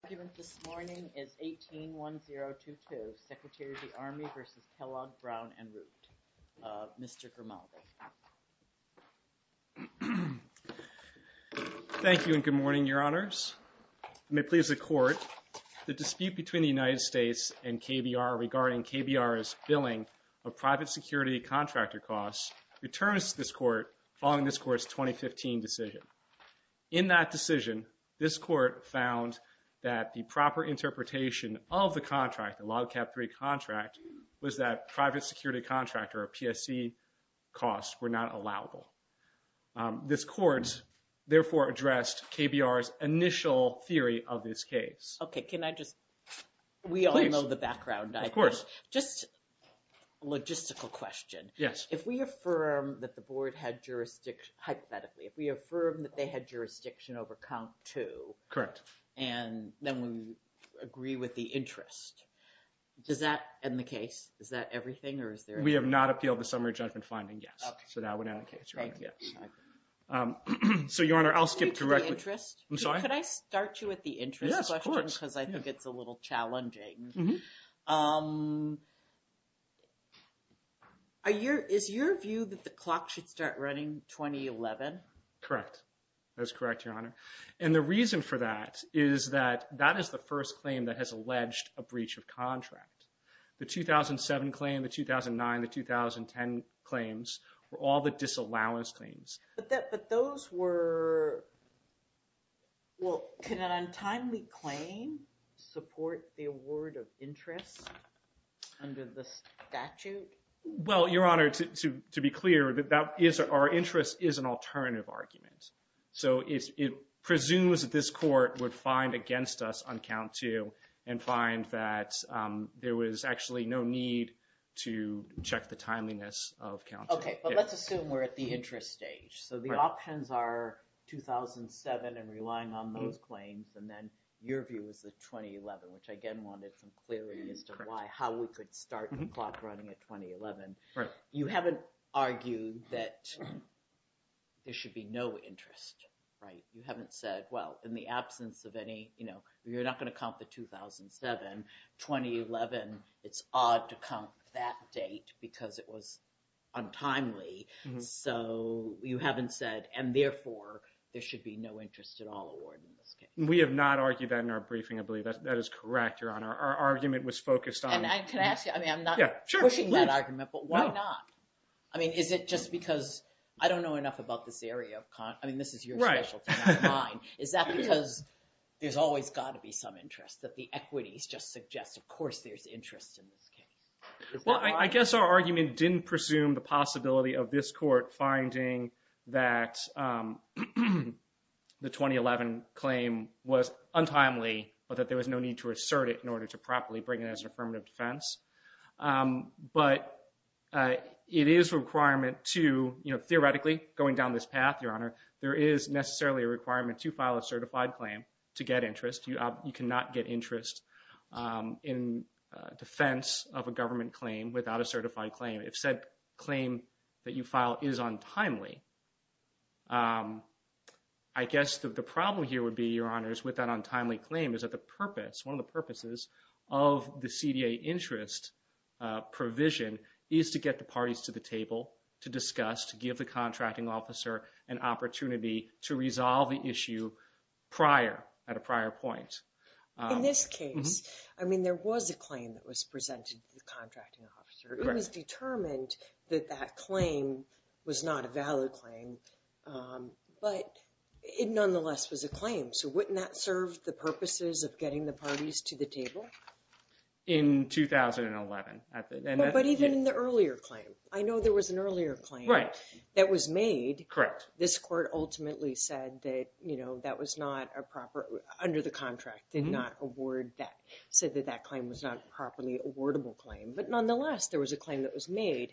The argument this morning is 18-1022, Secretary of the Army v. Kellogg Brown & Root, Mr. Grimaldi. Thank you and good morning, Your Honors. I may please the Court. The dispute between the United States and KBR regarding KBR's billing of private security contractor costs returns to this Court following this Court's 2015 decision. In that decision, this Court found that the proper interpretation of the contract, the Log Cap 3 contract, was that private security contractor, or PSC, costs were not allowable. This Court, therefore, addressed KBR's initial theory of this case. Okay, can I just, we all know the background. Of course. Just a logistical question. Yes. If we affirm that the Board had jurisdiction, hypothetically, if we affirm that they had jurisdiction over COMP 2. Correct. And then we agree with the interest, does that end the case? Is that everything, or is there? We have not appealed the summary judgment finding, yes. Okay. So that would end the case, Your Honor. Thank you. So, Your Honor, I'll skip to the interest. I'm sorry? Could I start you with the interest question? Yes, of course. Because I think it's a little challenging. Is your view that the clock should start running 2011? Correct. That is correct, Your Honor. And the reason for that is that that is the first claim that has alleged a breach of contract. The 2007 claim, the 2009, the 2010 claims were all the disallowance claims. But those were, well, can an untimely claim support the award of interest under the statute? Well, Your Honor, to be clear, our interest is an alternative argument. So it presumes that this Court would find against us on COMP 2 and find that there was actually no need to check the timeliness of COMP 2. Okay. But let's assume we're at the interest stage. So the options are 2007 and relying on those claims. And then your view is the 2011, which, again, wanted some clarity as to why, how we could start the clock running at 2011. Right. You haven't argued that there should be no interest, right? You haven't said, well, in the absence of any, you know, you're not going to COMP the 2007. 2011, it's odd to COMP that date because it was untimely. So you haven't said, and therefore, there should be no interest at all award in this case. We have not argued that in our briefing, I believe. That is correct, Your Honor. Our argument was focused on – And can I ask you – Yeah, sure. I mean, I'm not pushing that argument, but why not? I mean, is it just because I don't know enough about this area of – I mean, this is your specialty. Is that because there's always got to be some interest, that the equities just suggest, of course, there's interest in this case? Well, I guess our argument didn't presume the possibility of this court finding that the 2011 claim was untimely, but that there was no need to assert it in order to properly bring it as an affirmative defense. But it is a requirement to – you know, theoretically, going down this path, Your Honor, there is necessarily a requirement to file a certified claim to get interest. You cannot get interest in defense of a government claim without a certified claim. If said claim that you file is untimely, I guess the problem here would be, Your Honor, is with that untimely claim is that the purpose, one of the purposes of the CDA interest provision is to get the parties to the table to discuss, to give the contracting officer an opportunity to resolve the issue prior, at a prior point. In this case, I mean, there was a claim that was presented to the contracting officer. It was determined that that claim was not a valid claim, but it nonetheless was a claim. So wouldn't that serve the purposes of getting the parties to the table? In 2011. But even in the earlier claim. I know there was an earlier claim that was made. Correct. This court ultimately said that, you know, that was not a proper – under the contract, did not award that, said that that claim was not a properly awardable claim. But nonetheless, there was a claim that was made.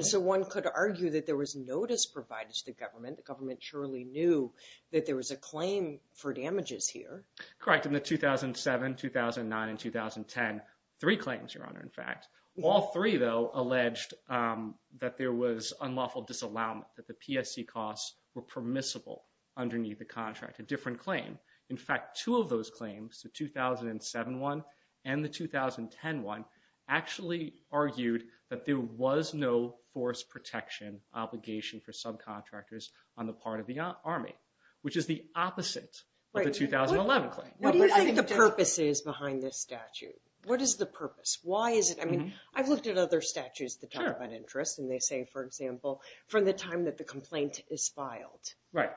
So one could argue that there was notice provided to the government. The government surely knew that there was a claim for damages here. Correct. In the 2007, 2009, and 2010, three claims, Your Honor, in fact. All three, though, alleged that there was unlawful disallowment, that the PSC costs were permissible underneath the contract, a different claim. In fact, two of those claims, the 2007 one and the 2010 one, actually argued that there was no force protection obligation for subcontractors on the part of the Army, which is the opposite of the 2011 claim. What do you think the purpose is behind this statute? What is the purpose? Why is it – I mean, I've looked at other statutes that talk about interest, and they say, for example, from the time that the complaint is filed. Right.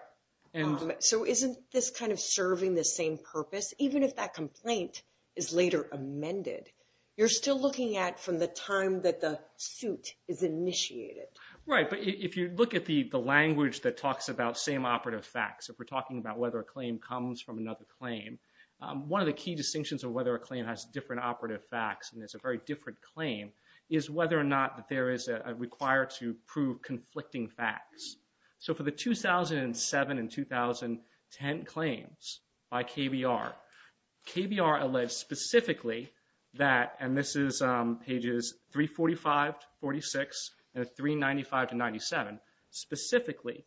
So isn't this kind of serving the same purpose? Even if that complaint is later amended, you're still looking at from the time that the suit is initiated. Right. But if you look at the language that talks about same operative facts, if we're talking about whether a claim comes from another claim, one of the key distinctions of whether a claim has different operative facts, and it's a very different claim, is whether or not there is a required to prove conflicting facts. So for the 2007 and 2010 claims by KBR, KBR alleged specifically that, and this is pages 345 to 46 and 395 to 97, specifically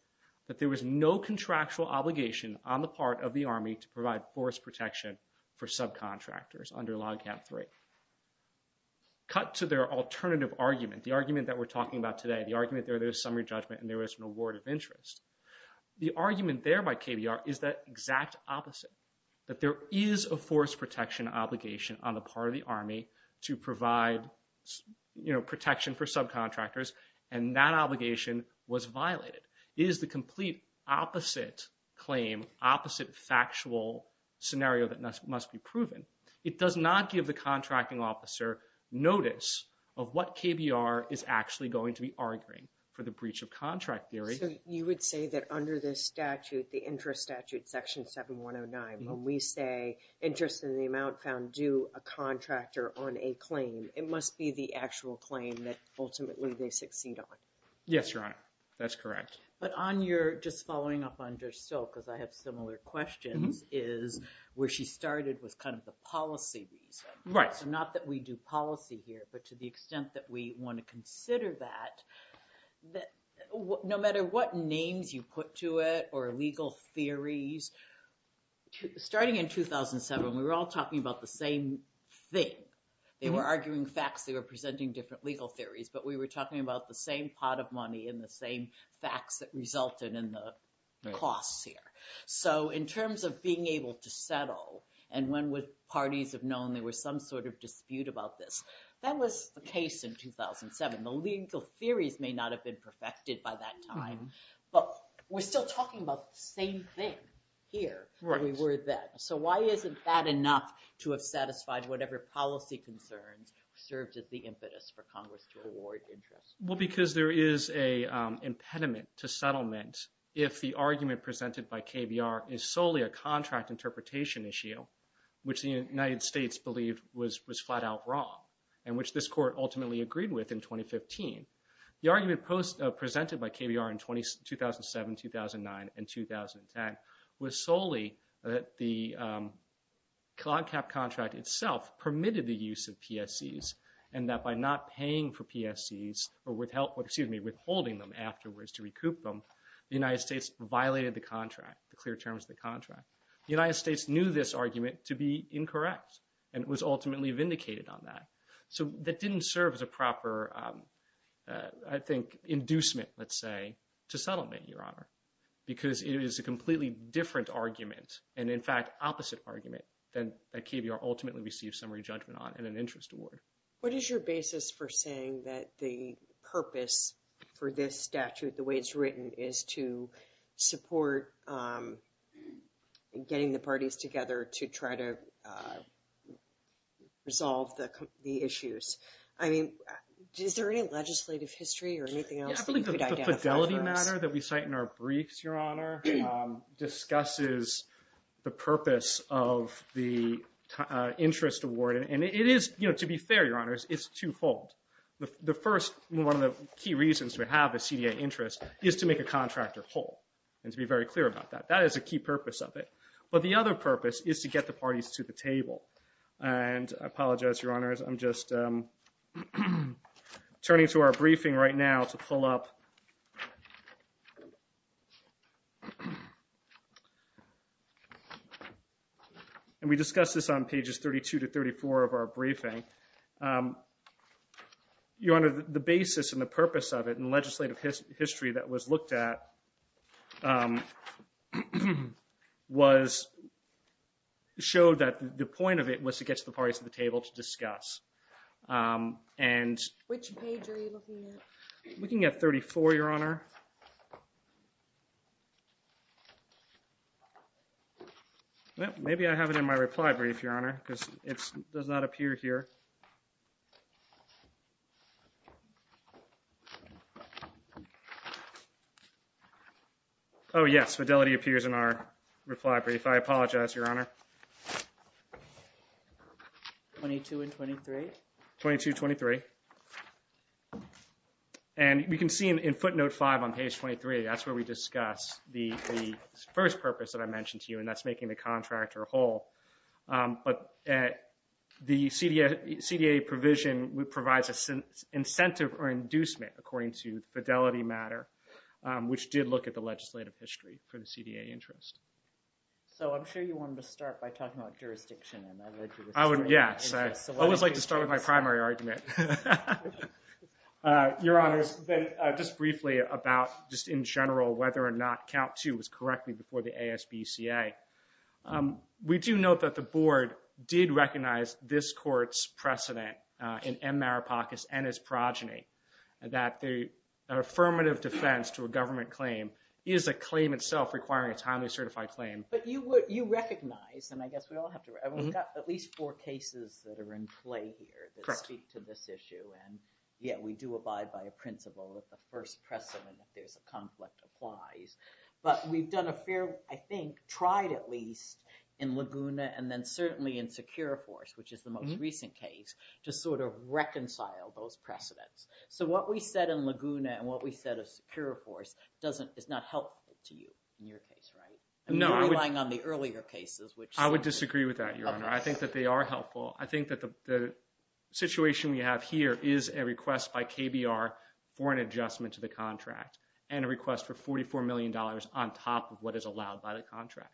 that there was no contractual obligation on the part of the Army to provide force protection for subcontractors under Log Cap 3. Cut to their alternative argument, the argument that we're talking about today, the argument there is summary judgment and there is an award of interest. The argument there by KBR is the exact opposite, that there is a force protection obligation on the part of the Army to provide protection for subcontractors, and that obligation was violated. It is the complete opposite claim, opposite factual scenario that must be proven. It does not give the contracting officer notice of what KBR is actually going to be arguing for the breach of contract theory. So you would say that under this statute, the interest statute, section 7109, when we say interest in the amount found due a contractor on a claim, it must be the actual claim that ultimately they succeed on. Yes, Your Honor, that's correct. But on your, just following up on Judge Silk, because I have similar questions, is where she started was kind of the policy reason. Right. So not that we do policy here, but to the extent that we want to consider that, no matter what names you put to it or legal theories, starting in 2007, we were all talking about the same thing. They were arguing facts, they were presenting different legal theories, but we were talking about the same pot of money and the same facts that resulted in the costs here. So in terms of being able to settle and when parties have known there was some sort of dispute about this, that was the case in 2007. The legal theories may not have been perfected by that time, but we're still talking about the same thing here than we were then. So why isn't that enough to have satisfied whatever policy concerns served as the impetus for Congress to award interest? Well, because there is an impediment to settlement if the argument presented by KBR is solely a contract interpretation issue, which the United States believed was flat out wrong, and which this Court ultimately agreed with in 2015. The argument presented by KBR in 2007, 2009, and 2010 was solely that the cloud cap contract itself permitted the use of PSCs and that by not paying for PSCs or withholding them afterwards to recoup them, the United States violated the contract, the clear terms of the contract. The United States knew this argument to be incorrect and was ultimately vindicated on that. So that didn't serve as a proper, I think, inducement, let's say, to settlement, Your Honor, because it is a completely different argument and, in fact, opposite argument that KBR ultimately received summary judgment on and an interest award. What is your basis for saying that the purpose for this statute, the way it's written, is to support getting the parties together to try to resolve the issues? I mean, is there any legislative history or anything else that you could identify for us? The fidelity matter that we cite in our briefs, Your Honor, discusses the purpose of the interest award. And it is, you know, to be fair, Your Honors, it's twofold. The first, one of the key reasons to have a CDA interest is to make a contractor whole and to be very clear about that. That is a key purpose of it. But the other purpose is to get the parties to the table. And I apologize, Your Honors. I'm just turning to our briefing right now to pull up. And we discussed this on pages 32 to 34 of our briefing. Your Honor, the basis and the purpose of it and legislative history that was looked at showed that the point of it was to get the parties to the table to discuss. Which page are you looking at? I'm looking at 34, Your Honor. Maybe I have it in my reply brief, Your Honor, because it does not appear here. Oh, yes. Fidelity appears in our reply brief. I apologize, Your Honor. 22 and 23? 22, 23. And we can see in footnote 5 on page 23, that's where we discuss the first purpose that I mentioned to you, and that's making the contractor whole. But the CDA provision provides an incentive or inducement, according to the Fidelity matter, which did look at the legislative history for the CDA interest. So I'm sure you wanted to start by talking about jurisdiction. I would, yes. I always like to start with my primary argument. Your Honors, just briefly about, just in general, whether or not Count 2 was correctly before the ASBCA. We do note that the Board did recognize this court's precedent in M. Maripakas and his progeny, that the affirmative defense to a government claim is a claim itself requiring a timely certified claim. But you recognize, and I guess we all have to, we've got at least four cases that are in play here that speak to this issue, and yet we do abide by a principle that the first precedent, if there's a conflict, applies. But we've done a fair, I think, tried at least, in Laguna and then certainly in Securiforce, which is the most recent case, to sort of reconcile those precedents. So what we said in Laguna and what we said in Securiforce is not helpful to you in your case, right? No. You're relying on the earlier cases, which... I would disagree with that, Your Honor. I think that they are helpful. I think that the situation we have here is a request by KBR for an adjustment to the contract and a request for $44 million on top of what is allowed by the contract.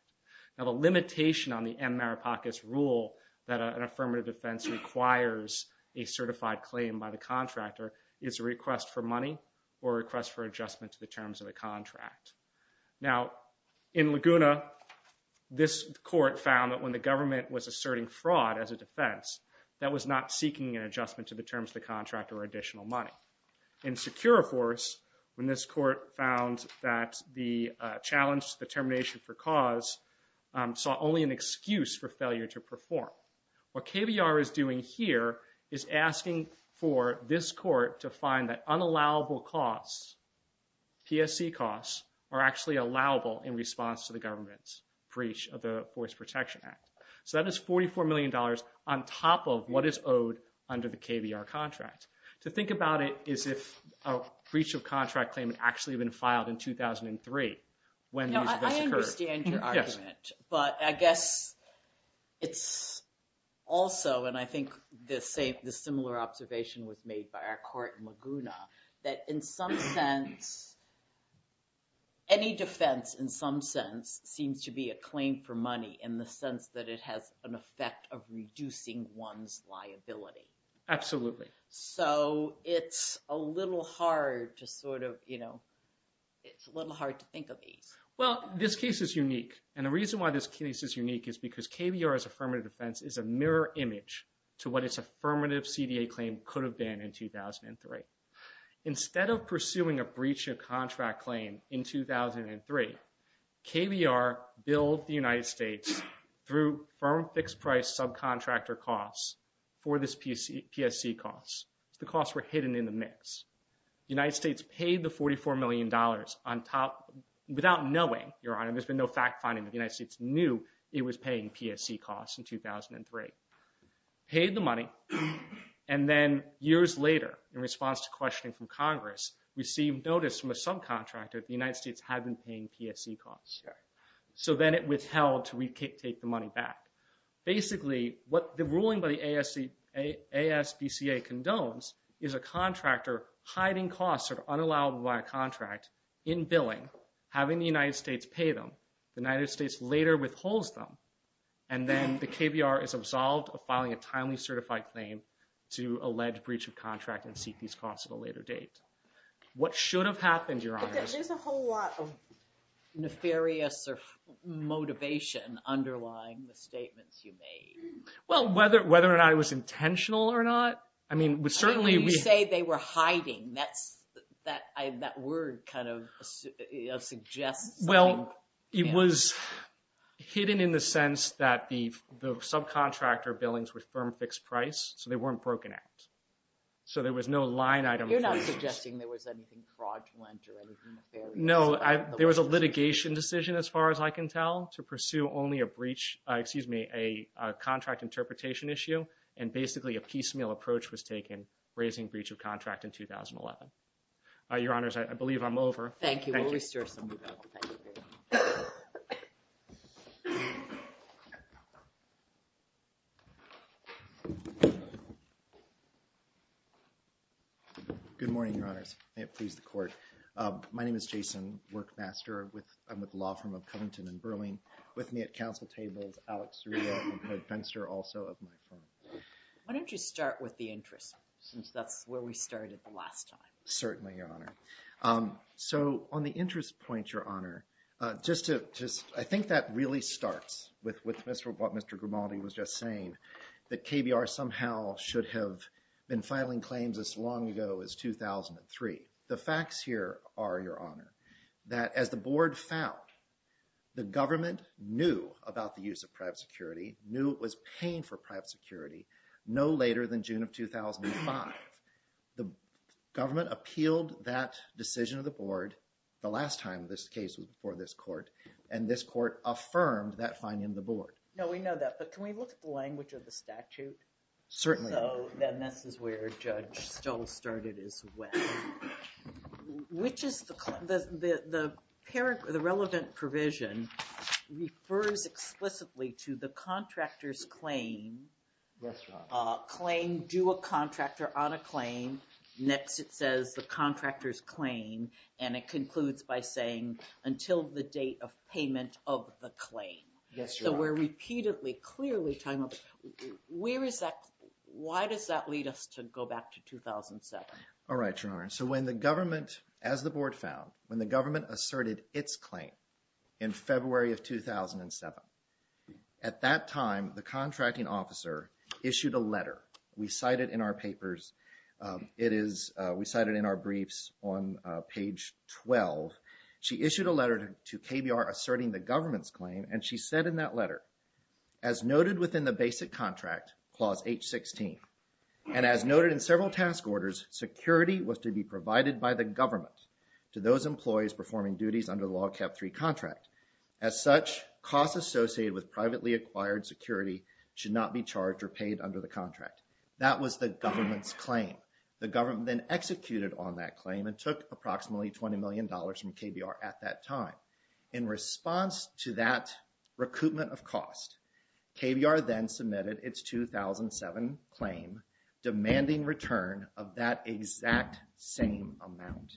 Now, the limitation on the M. Maripakas rule that an affirmative defense requires a certified claim by the contractor is a request for money or a request for adjustment to the terms of the contract. Now, in Laguna, this court found that when the government was asserting fraud as a defense, that was not seeking an adjustment to the terms of the contract or additional money. In Securiforce, when this court found that the challenge determination for cause saw only an excuse for failure to perform. What KBR is doing here is asking for this court to find that unallowable costs, PSC costs, are actually allowable in response to the government's breach of the Voice Protection Act. So that is $44 million on top of what is owed under the KBR contract. To think about it is if a breach of contract claim had actually been filed in 2003 when these events occurred. I understand your argument, but I guess it's also, and I think the similar observation was made by our court in Laguna, that in some sense, any defense in some sense seems to be a claim for money in the sense that it has an effect of reducing one's liability. Absolutely. So it's a little hard to sort of, you know, it's a little hard to think of ease. Well, this case is unique, and the reason why this case is unique is because KBR's affirmative defense is a mirror image to what its affirmative CDA claim could have been in 2003. Instead of pursuing a breach of contract claim in 2003, KBR billed the United States through firm fixed price subcontractor costs for this PSC costs. The costs were hidden in the mix. The United States paid the $44 million on top without knowing, Your Honor, there's been no fact-finding. The United States knew it was paying PSC costs in 2003. Paid the money, and then years later, in response to questioning from Congress, received notice from a subcontractor that the United States had been paying PSC costs. So then it withheld to retake the money back. Basically, what the ruling by the ASBCA condones is a contractor hiding costs that are unallowed by a contract in billing, having the United States pay them. The United States later withholds them, and then the KBR is absolved of filing a timely certified claim to allege breach of contract and seek these costs at a later date. What should have happened, Your Honor? There's a whole lot of nefarious motivation underlying the statements you made. Well, whether or not it was intentional or not, I mean, we certainly— You say they were hiding. That word kind of suggests— Well, it was hidden in the sense that the subcontractor billings were firm fixed price, so they weren't broken out. So there was no line item— You're not suggesting there was anything fraudulent or anything nefarious— No, there was a litigation decision, as far as I can tell, to pursue only a breach— excuse me, a contract interpretation issue, and basically a piecemeal approach was taken, raising breach of contract in 2011. Your Honors, I believe I'm over. Thank you. We'll restore some of that. Good morning, Your Honors. May it please the Court. My name is Jason Workmaster. I'm with the law firm of Covington & Burling. With me at council table is Alec Cerullo and Ted Fenster, also of my firm. Why don't you start with the interest, since that's where we started the last time. Certainly, Your Honor. So on the interest point, Your Honor, I think that really starts with what Mr. Grimaldi was just saying, that KBR somehow should have been filing claims as long ago as 2003. The facts here are, Your Honor, that as the Board found, the government knew about the use of private security, knew it was paying for private security, no later than June of 2005, the government appealed that decision to the Board, the last time this case was before this Court, and this Court affirmed that finding to the Board. No, we know that, but can we look at the language of the statute? Certainly. So, then this is where Judge Stoll started as well. Which is the, the relevant provision refers explicitly to the contractor's claim. Yes, Your Honor. Claim, due a contractor on a claim, next it says the contractor's claim, and it concludes by saying until the date of payment of the claim. Yes, Your Honor. So, we're repeatedly, clearly telling them, where is that, why does that lead us to go back to 2007? All right, Your Honor. So, when the government, as the Board found, when the government asserted its claim in February of 2007, at that time, the contracting officer issued a letter. We cite it in our papers. It is, we cite it in our briefs on page 12. She issued a letter to KBR asserting the government's claim, and she said in that letter, as noted within the basic contract, Clause 816, and as noted in several task orders, security was to be provided by the government to those employees performing duties under the Log Cap 3 contract. As such, costs associated with privately acquired security should not be charged or paid under the contract. That was the government's claim. The government then executed on that claim and took approximately $20 million from KBR at that time. In response to that recoupment of cost, KBR then submitted its 2007 claim demanding return of that exact same amount.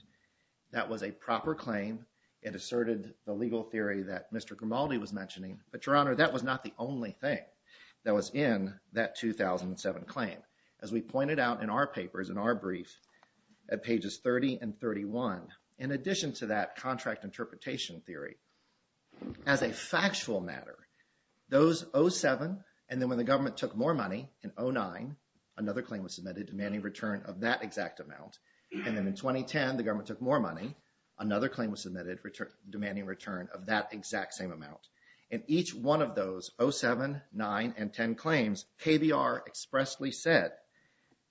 That was a proper claim. It asserted the legal theory that Mr. Grimaldi was mentioning, but, Your Honor, that was not the only thing that was in that 2007 claim. As we pointed out in our papers, in our brief, at pages 30 and 31, in addition to that contract interpretation theory, as a factual matter, those 07, and then when the government took more money, in 09, another claim was submitted demanding return of that exact amount, and then in 2010, the government took more money, another claim was submitted demanding return of that exact same amount. In each one of those 07, 09, and 10 claims, KBR expressly said,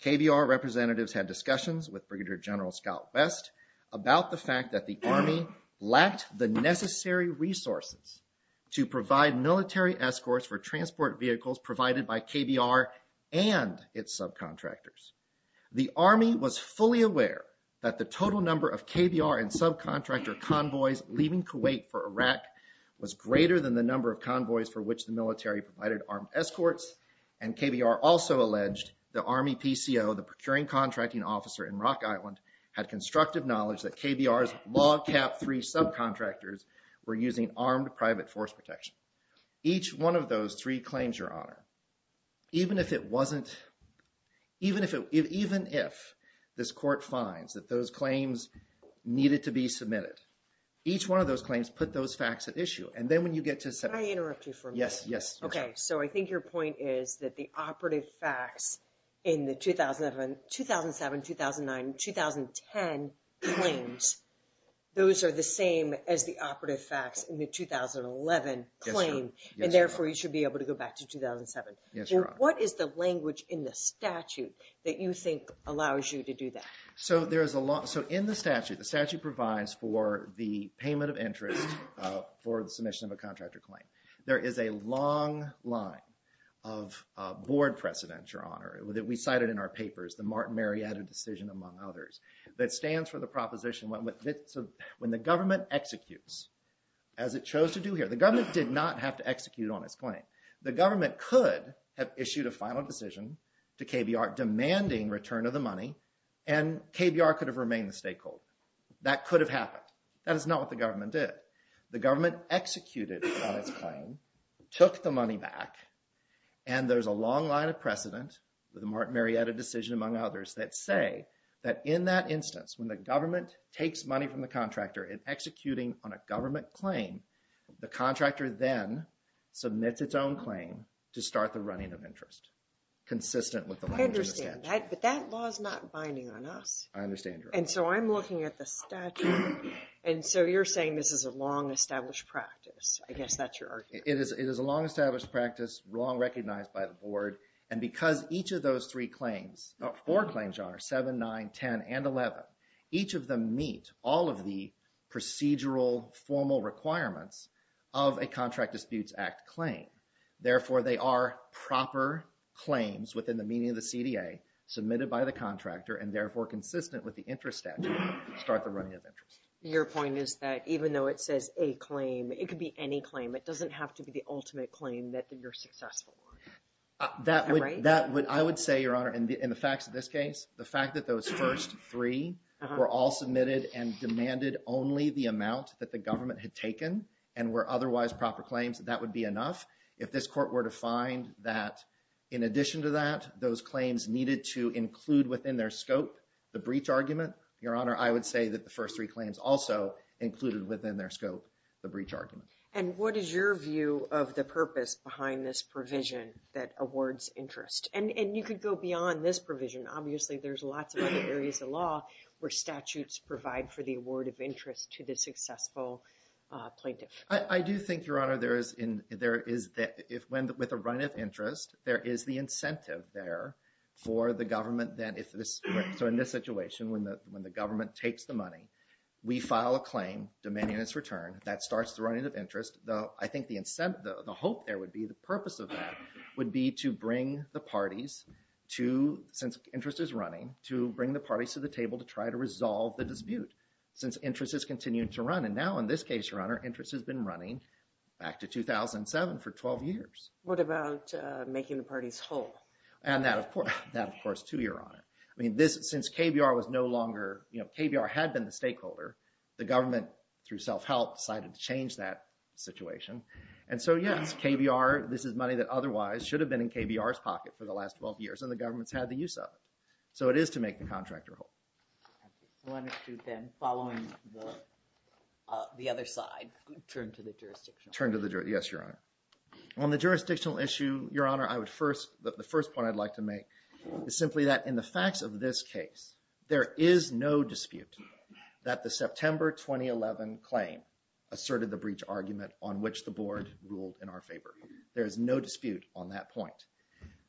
KBR representatives had discussions with Brigadier General Scout Best about the fact that the Army lacked the necessary resources to provide military escorts for transport vehicles provided by KBR and its subcontractors. The Army was fully aware that the total number of KBR and subcontractor convoys leaving Kuwait for Iraq was greater than the number of convoys for which the military provided armed escorts, and KBR also alleged the Army PCO, the procuring contracting officer in Rock Island, had constructive knowledge that KBR's log cap three subcontractors were using armed private force protection. Each one of those three claims, Your Honor, even if it wasn't, even if this court finds that those claims needed to be submitted, each one of those claims put those facts at issue, and then when you get to 07... Can I interrupt you for a minute? Yes, yes. Okay, so I think your point is that the operative facts in the 2007, 2009, 2010 claims, those are the same as the operative facts in the 2011 claim, and therefore you should be able to go back to 2007. Yes, Your Honor. What is the language in the statute that you think allows you to do that? So in the statute, the statute provides for the payment of interest for the submission of a contractor claim. There is a long line of board precedents, Your Honor, that we cited in our papers, the Martin Marietta decision among others, that stands for the proposition when the government executes, as it chose to do here, the government did not have to execute on its claim. The government could have issued a final decision to KBR demanding return of the money, and KBR could have remained the stakeholder. That could have happened. That is not what the government did. The government executed on its claim, took the money back, and there's a long line of precedent with the Martin Marietta decision among others that say that in that instance, when the government takes money from the contractor in executing on a government claim, the contractor then submits its own claim to start the running of interest, consistent with the language in the statute. I understand that, but that law is not binding on us. I understand, Your Honor. And so I'm looking at the statute, and so you're saying this is a long established practice. I guess that's your argument. It is a long established practice, long recognized by the board, and because each of those three claims, or four claims, Your Honor, 7, 9, 10, and 11, each of them meet all of the procedural, formal requirements of a Contract Disputes Act claim. Therefore, they are proper claims within the meaning of the CDA, submitted by the contractor, and therefore consistent with the interest statute to start the running of interest. Your point is that even though it says a claim, it could be any claim. It doesn't have to be the ultimate claim that you're successful on. That would, I would say, Your Honor, in the facts of this case, the fact that those first three were all submitted and demanded only the amount that the government had taken and were otherwise proper claims, that would be enough. If this court were to find that in addition to that, those claims needed to include within their scope the breach argument, Your Honor, I would say that the first three claims also included within their scope the breach argument. And what is your view of the purpose behind this provision that awards interest? And you could go beyond this provision. Obviously, there's lots of other areas of law where statutes provide for the award of interest to the successful plaintiff. I do think, Your Honor, there is, with a run of interest, there is the incentive there for the government, so in this situation, when the government takes the money, we file a claim demanding its return. That starts the running of interest. I think the hope there would be, the purpose of that would be to bring the parties to, since interest is running, to bring the parties to the table to try to resolve the dispute since interest has continued to run. And now, in this case, Your Honor, interest has been running back to 2007 for 12 years. What about making the parties whole? And that, of course, too, Your Honor. I mean, since KBR was no longer, KBR had been the stakeholder, the government, through self-help, decided to change that situation. And so, yes, KBR, this is money that otherwise should have been in KBR's pocket for the last 12 years, and the government's had the use of it. So it is to make the contractor whole. I wanted to then, following the other side, turn to the jurisdictional issue. Yes, Your Honor. On the jurisdictional issue, Your Honor, the first point I'd like to make is simply that in the facts of this case, there is no dispute that the September 2011 claim asserted the breach argument on which the Board ruled in our favor. There is no dispute on that point.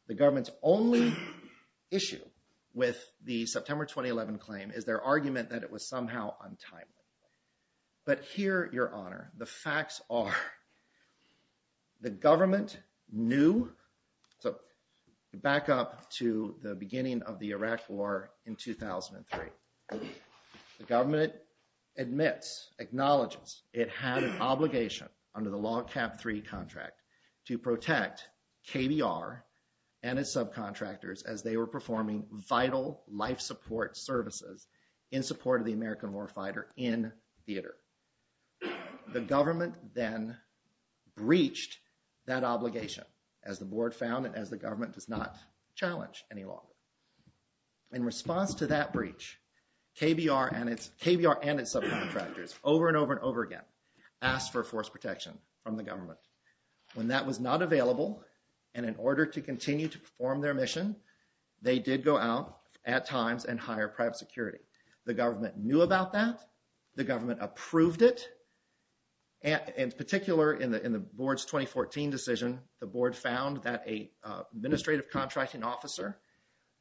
The government's only issue with the September 2011 claim is their argument that it was somehow untimely. But here, Your Honor, the facts are the government knew, so back up to the beginning of the Iraq War in 2003, the government admits, acknowledges, it had an obligation under the Log Cap 3 contract to protect KBR and its subcontractors as they were performing vital life support services in support of the American warfighter in theater. The government then breached that obligation as the Board found and as the government does not challenge any longer. In response to that breach, KBR and its subcontractors over and over and over again asked for force protection from the government. When that was not available and in order to continue to perform their mission, they did go out at times and hire private security. The government knew about that. The government approved it. In particular, in the Board's 2014 decision, the Board found that an administrative contracting officer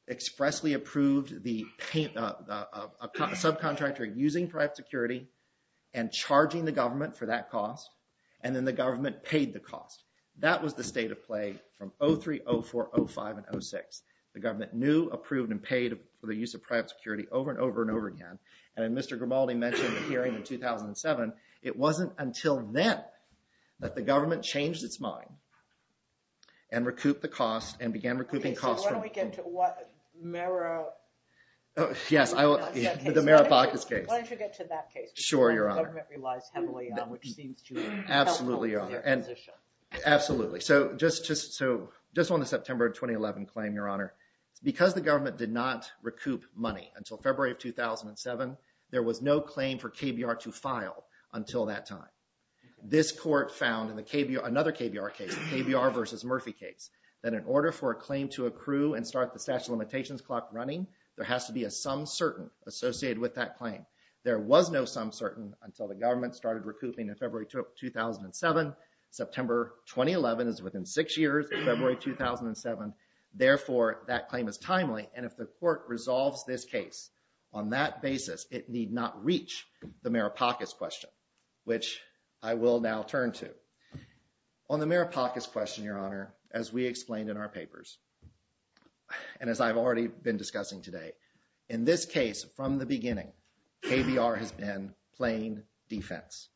expressly approved the subcontractor using private security and charging the government for that cost, and then the government paid the cost. That was the state of play from 03, 04, 05, and 06. The government knew, approved, and paid for the use of private security over and over and over again. As Mr. Grimaldi mentioned in the hearing in 2007, it wasn't until then that the government changed its mind and began recouping costs from... When do we get to what? Yes, the Merit Pockets case. Why don't you get to that case, which the government relies heavily on, which seems to be helpful in their position. Absolutely. Just on the September 2011 claim, Your Honor, because the government did not recoup money until February of 2007, there was no claim for KBR to file until that time. This court found in another KBR case, the KBR v. Murphy case, that in order for a claim to accrue and start the statute of limitations clock running, there has to be a some certain associated with that claim. There was no some certain until the government started recouping in February 2007. September 2011 is within six years of February 2007. Therefore, that claim is timely, and if the court resolves this case on that basis, it need not reach the Merit Pockets question, which I will now turn to. On the Merit Pockets question, Your Honor, as we explained in our papers and as I've already been discussing today, in this case, from the beginning, KBR has been plain defense.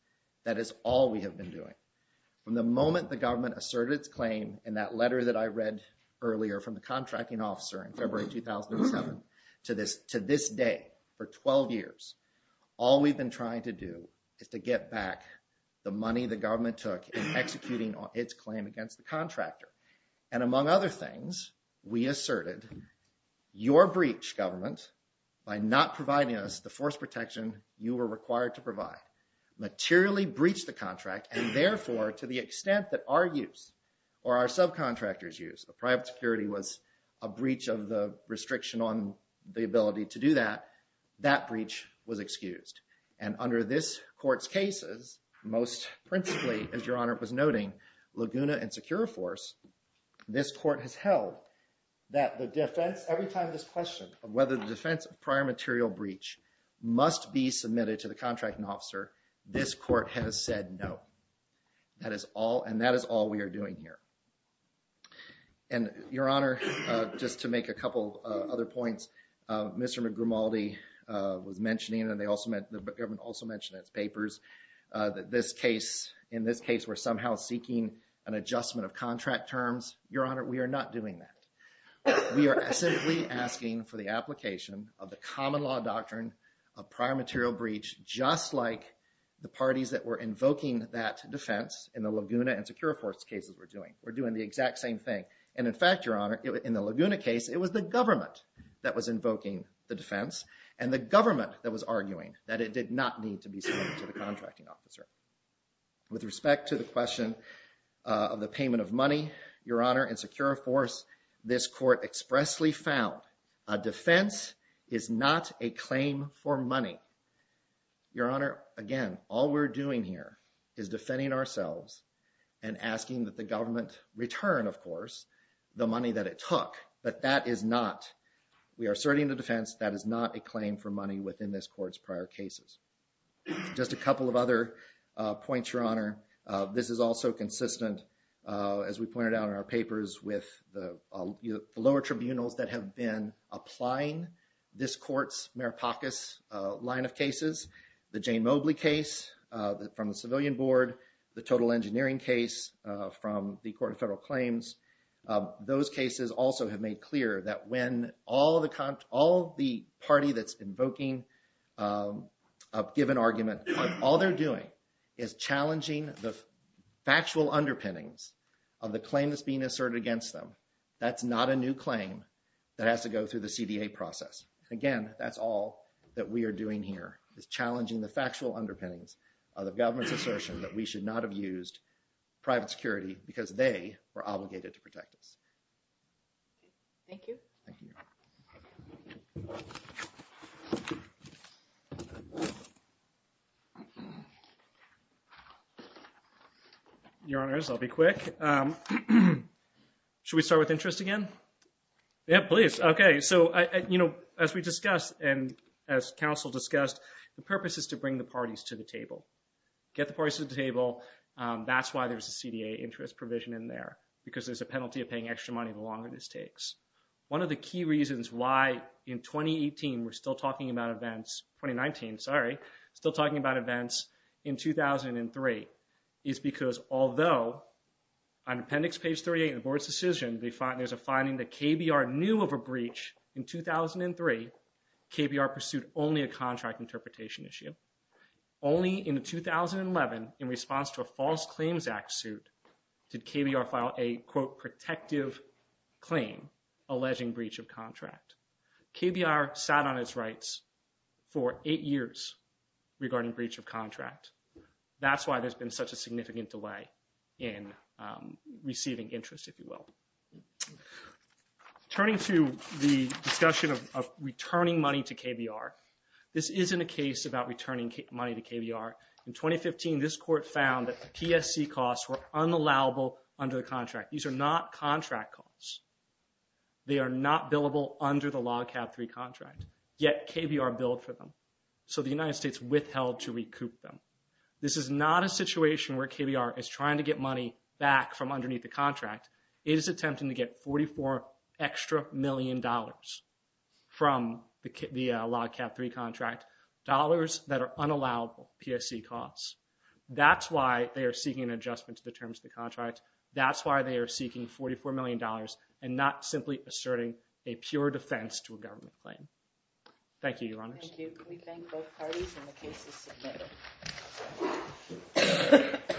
That is all we have been doing. From the moment the government asserted its claim in that letter that I read earlier from the contracting officer in February 2007 to this day for 12 years, all we've been trying to do is to get back the money the government took in executing its claim against the contractor. Among other things, we asserted your breach, government, by not providing us the force protection you were required to provide materially breached the contract and therefore to the extent that our use or our subcontractors use, the private security was a breach of the restriction on the ability to do that, that breach was excused. And under this court's cases, most principally, as Your Honor was noting, Laguna and Securiforce, this court has held that the defense, every time this question of whether the defense of prior material breach must be submitted to the contracting officer, this court has said no. And that is all we are doing here. And Your Honor, just to make a couple other points, Mr. McGrimaldi was mentioning and the government also mentioned in its papers that in this case we're somehow seeking an adjustment of contract terms. Your Honor, we are not doing that. We are simply asking for the application of the common law doctrine of prior material breach just like the parties that were invoking that defense in the Laguna and Securiforce cases were doing. We're doing the exact same thing. And in fact, Your Honor, in the Laguna case, it was the government that was invoking the defense and the government that was arguing that it did not need to be submitted to the contracting officer. With respect to the question of the payment of money, Your Honor, in Securiforce, this court expressly found a defense is not a claim for money. Your Honor, again, all we're doing here is defending ourselves and asking that the government return, of course, the money that it took. But that is not, we are asserting the defense, that is not a claim for money within this court's prior cases. Just a couple of other points, Your Honor. This is also consistent, as we pointed out in our papers, with the lower tribunals that have been applying this court's Maripakos line of cases, the Jane Mobley case from the Civilian Board, the Total Engineering case from the Court of Federal Claims. Those cases also have made clear that when all the party that's invoking a given argument, all they're doing is challenging the factual underpinnings of the claim that's being asserted against them. That's not a new claim that has to go through the CDA process. Again, that's all that we are doing here is challenging the factual underpinnings of the government's assertion that we should not have used private security because they were obligated to protect us. Thank you. Thank you. Your Honors, I'll be quick. Should we start with interest again? Yeah, please. Okay, so as we discussed and as counsel discussed, the purpose is to bring the parties to the table. Get the parties to the table. That's why there's a CDA interest provision in there because there's a penalty of paying extra money the longer this takes. One of the key reasons why in 2018 we're still talking about events, 2019, sorry, still talking about events in 2003 is because although on appendix page 38 in the board's decision there's a finding that KBR knew of a breach in 2003, KBR pursued only a contract interpretation issue. Only in 2011 in response to a False Claims Act suit did KBR file a, quote, protective claim alleging breach of contract. KBR sat on its rights for eight years regarding breach of contract. That's why there's been such a significant delay in receiving interest, if you will. Turning to the discussion of returning money to KBR. This isn't a case about returning money to KBR. In 2015 this court found that the PSC costs were unallowable under the contract. These are not contract costs. They are not billable under the Log Cab 3 contract. Yet KBR billed for them. So the United States withheld to recoup them. This is not a situation where KBR is trying to get money back from underneath the contract. It is attempting to get 44 extra million dollars from the Log Cab 3 contract. Dollars that are unallowable PSC costs. That's why they are seeking an adjustment to the terms of the contract. That's why they are seeking 44 million dollars and not simply asserting a pure defense to a government claim. Thank you, Your Honors. Thank you. We thank both parties and the case is submitted.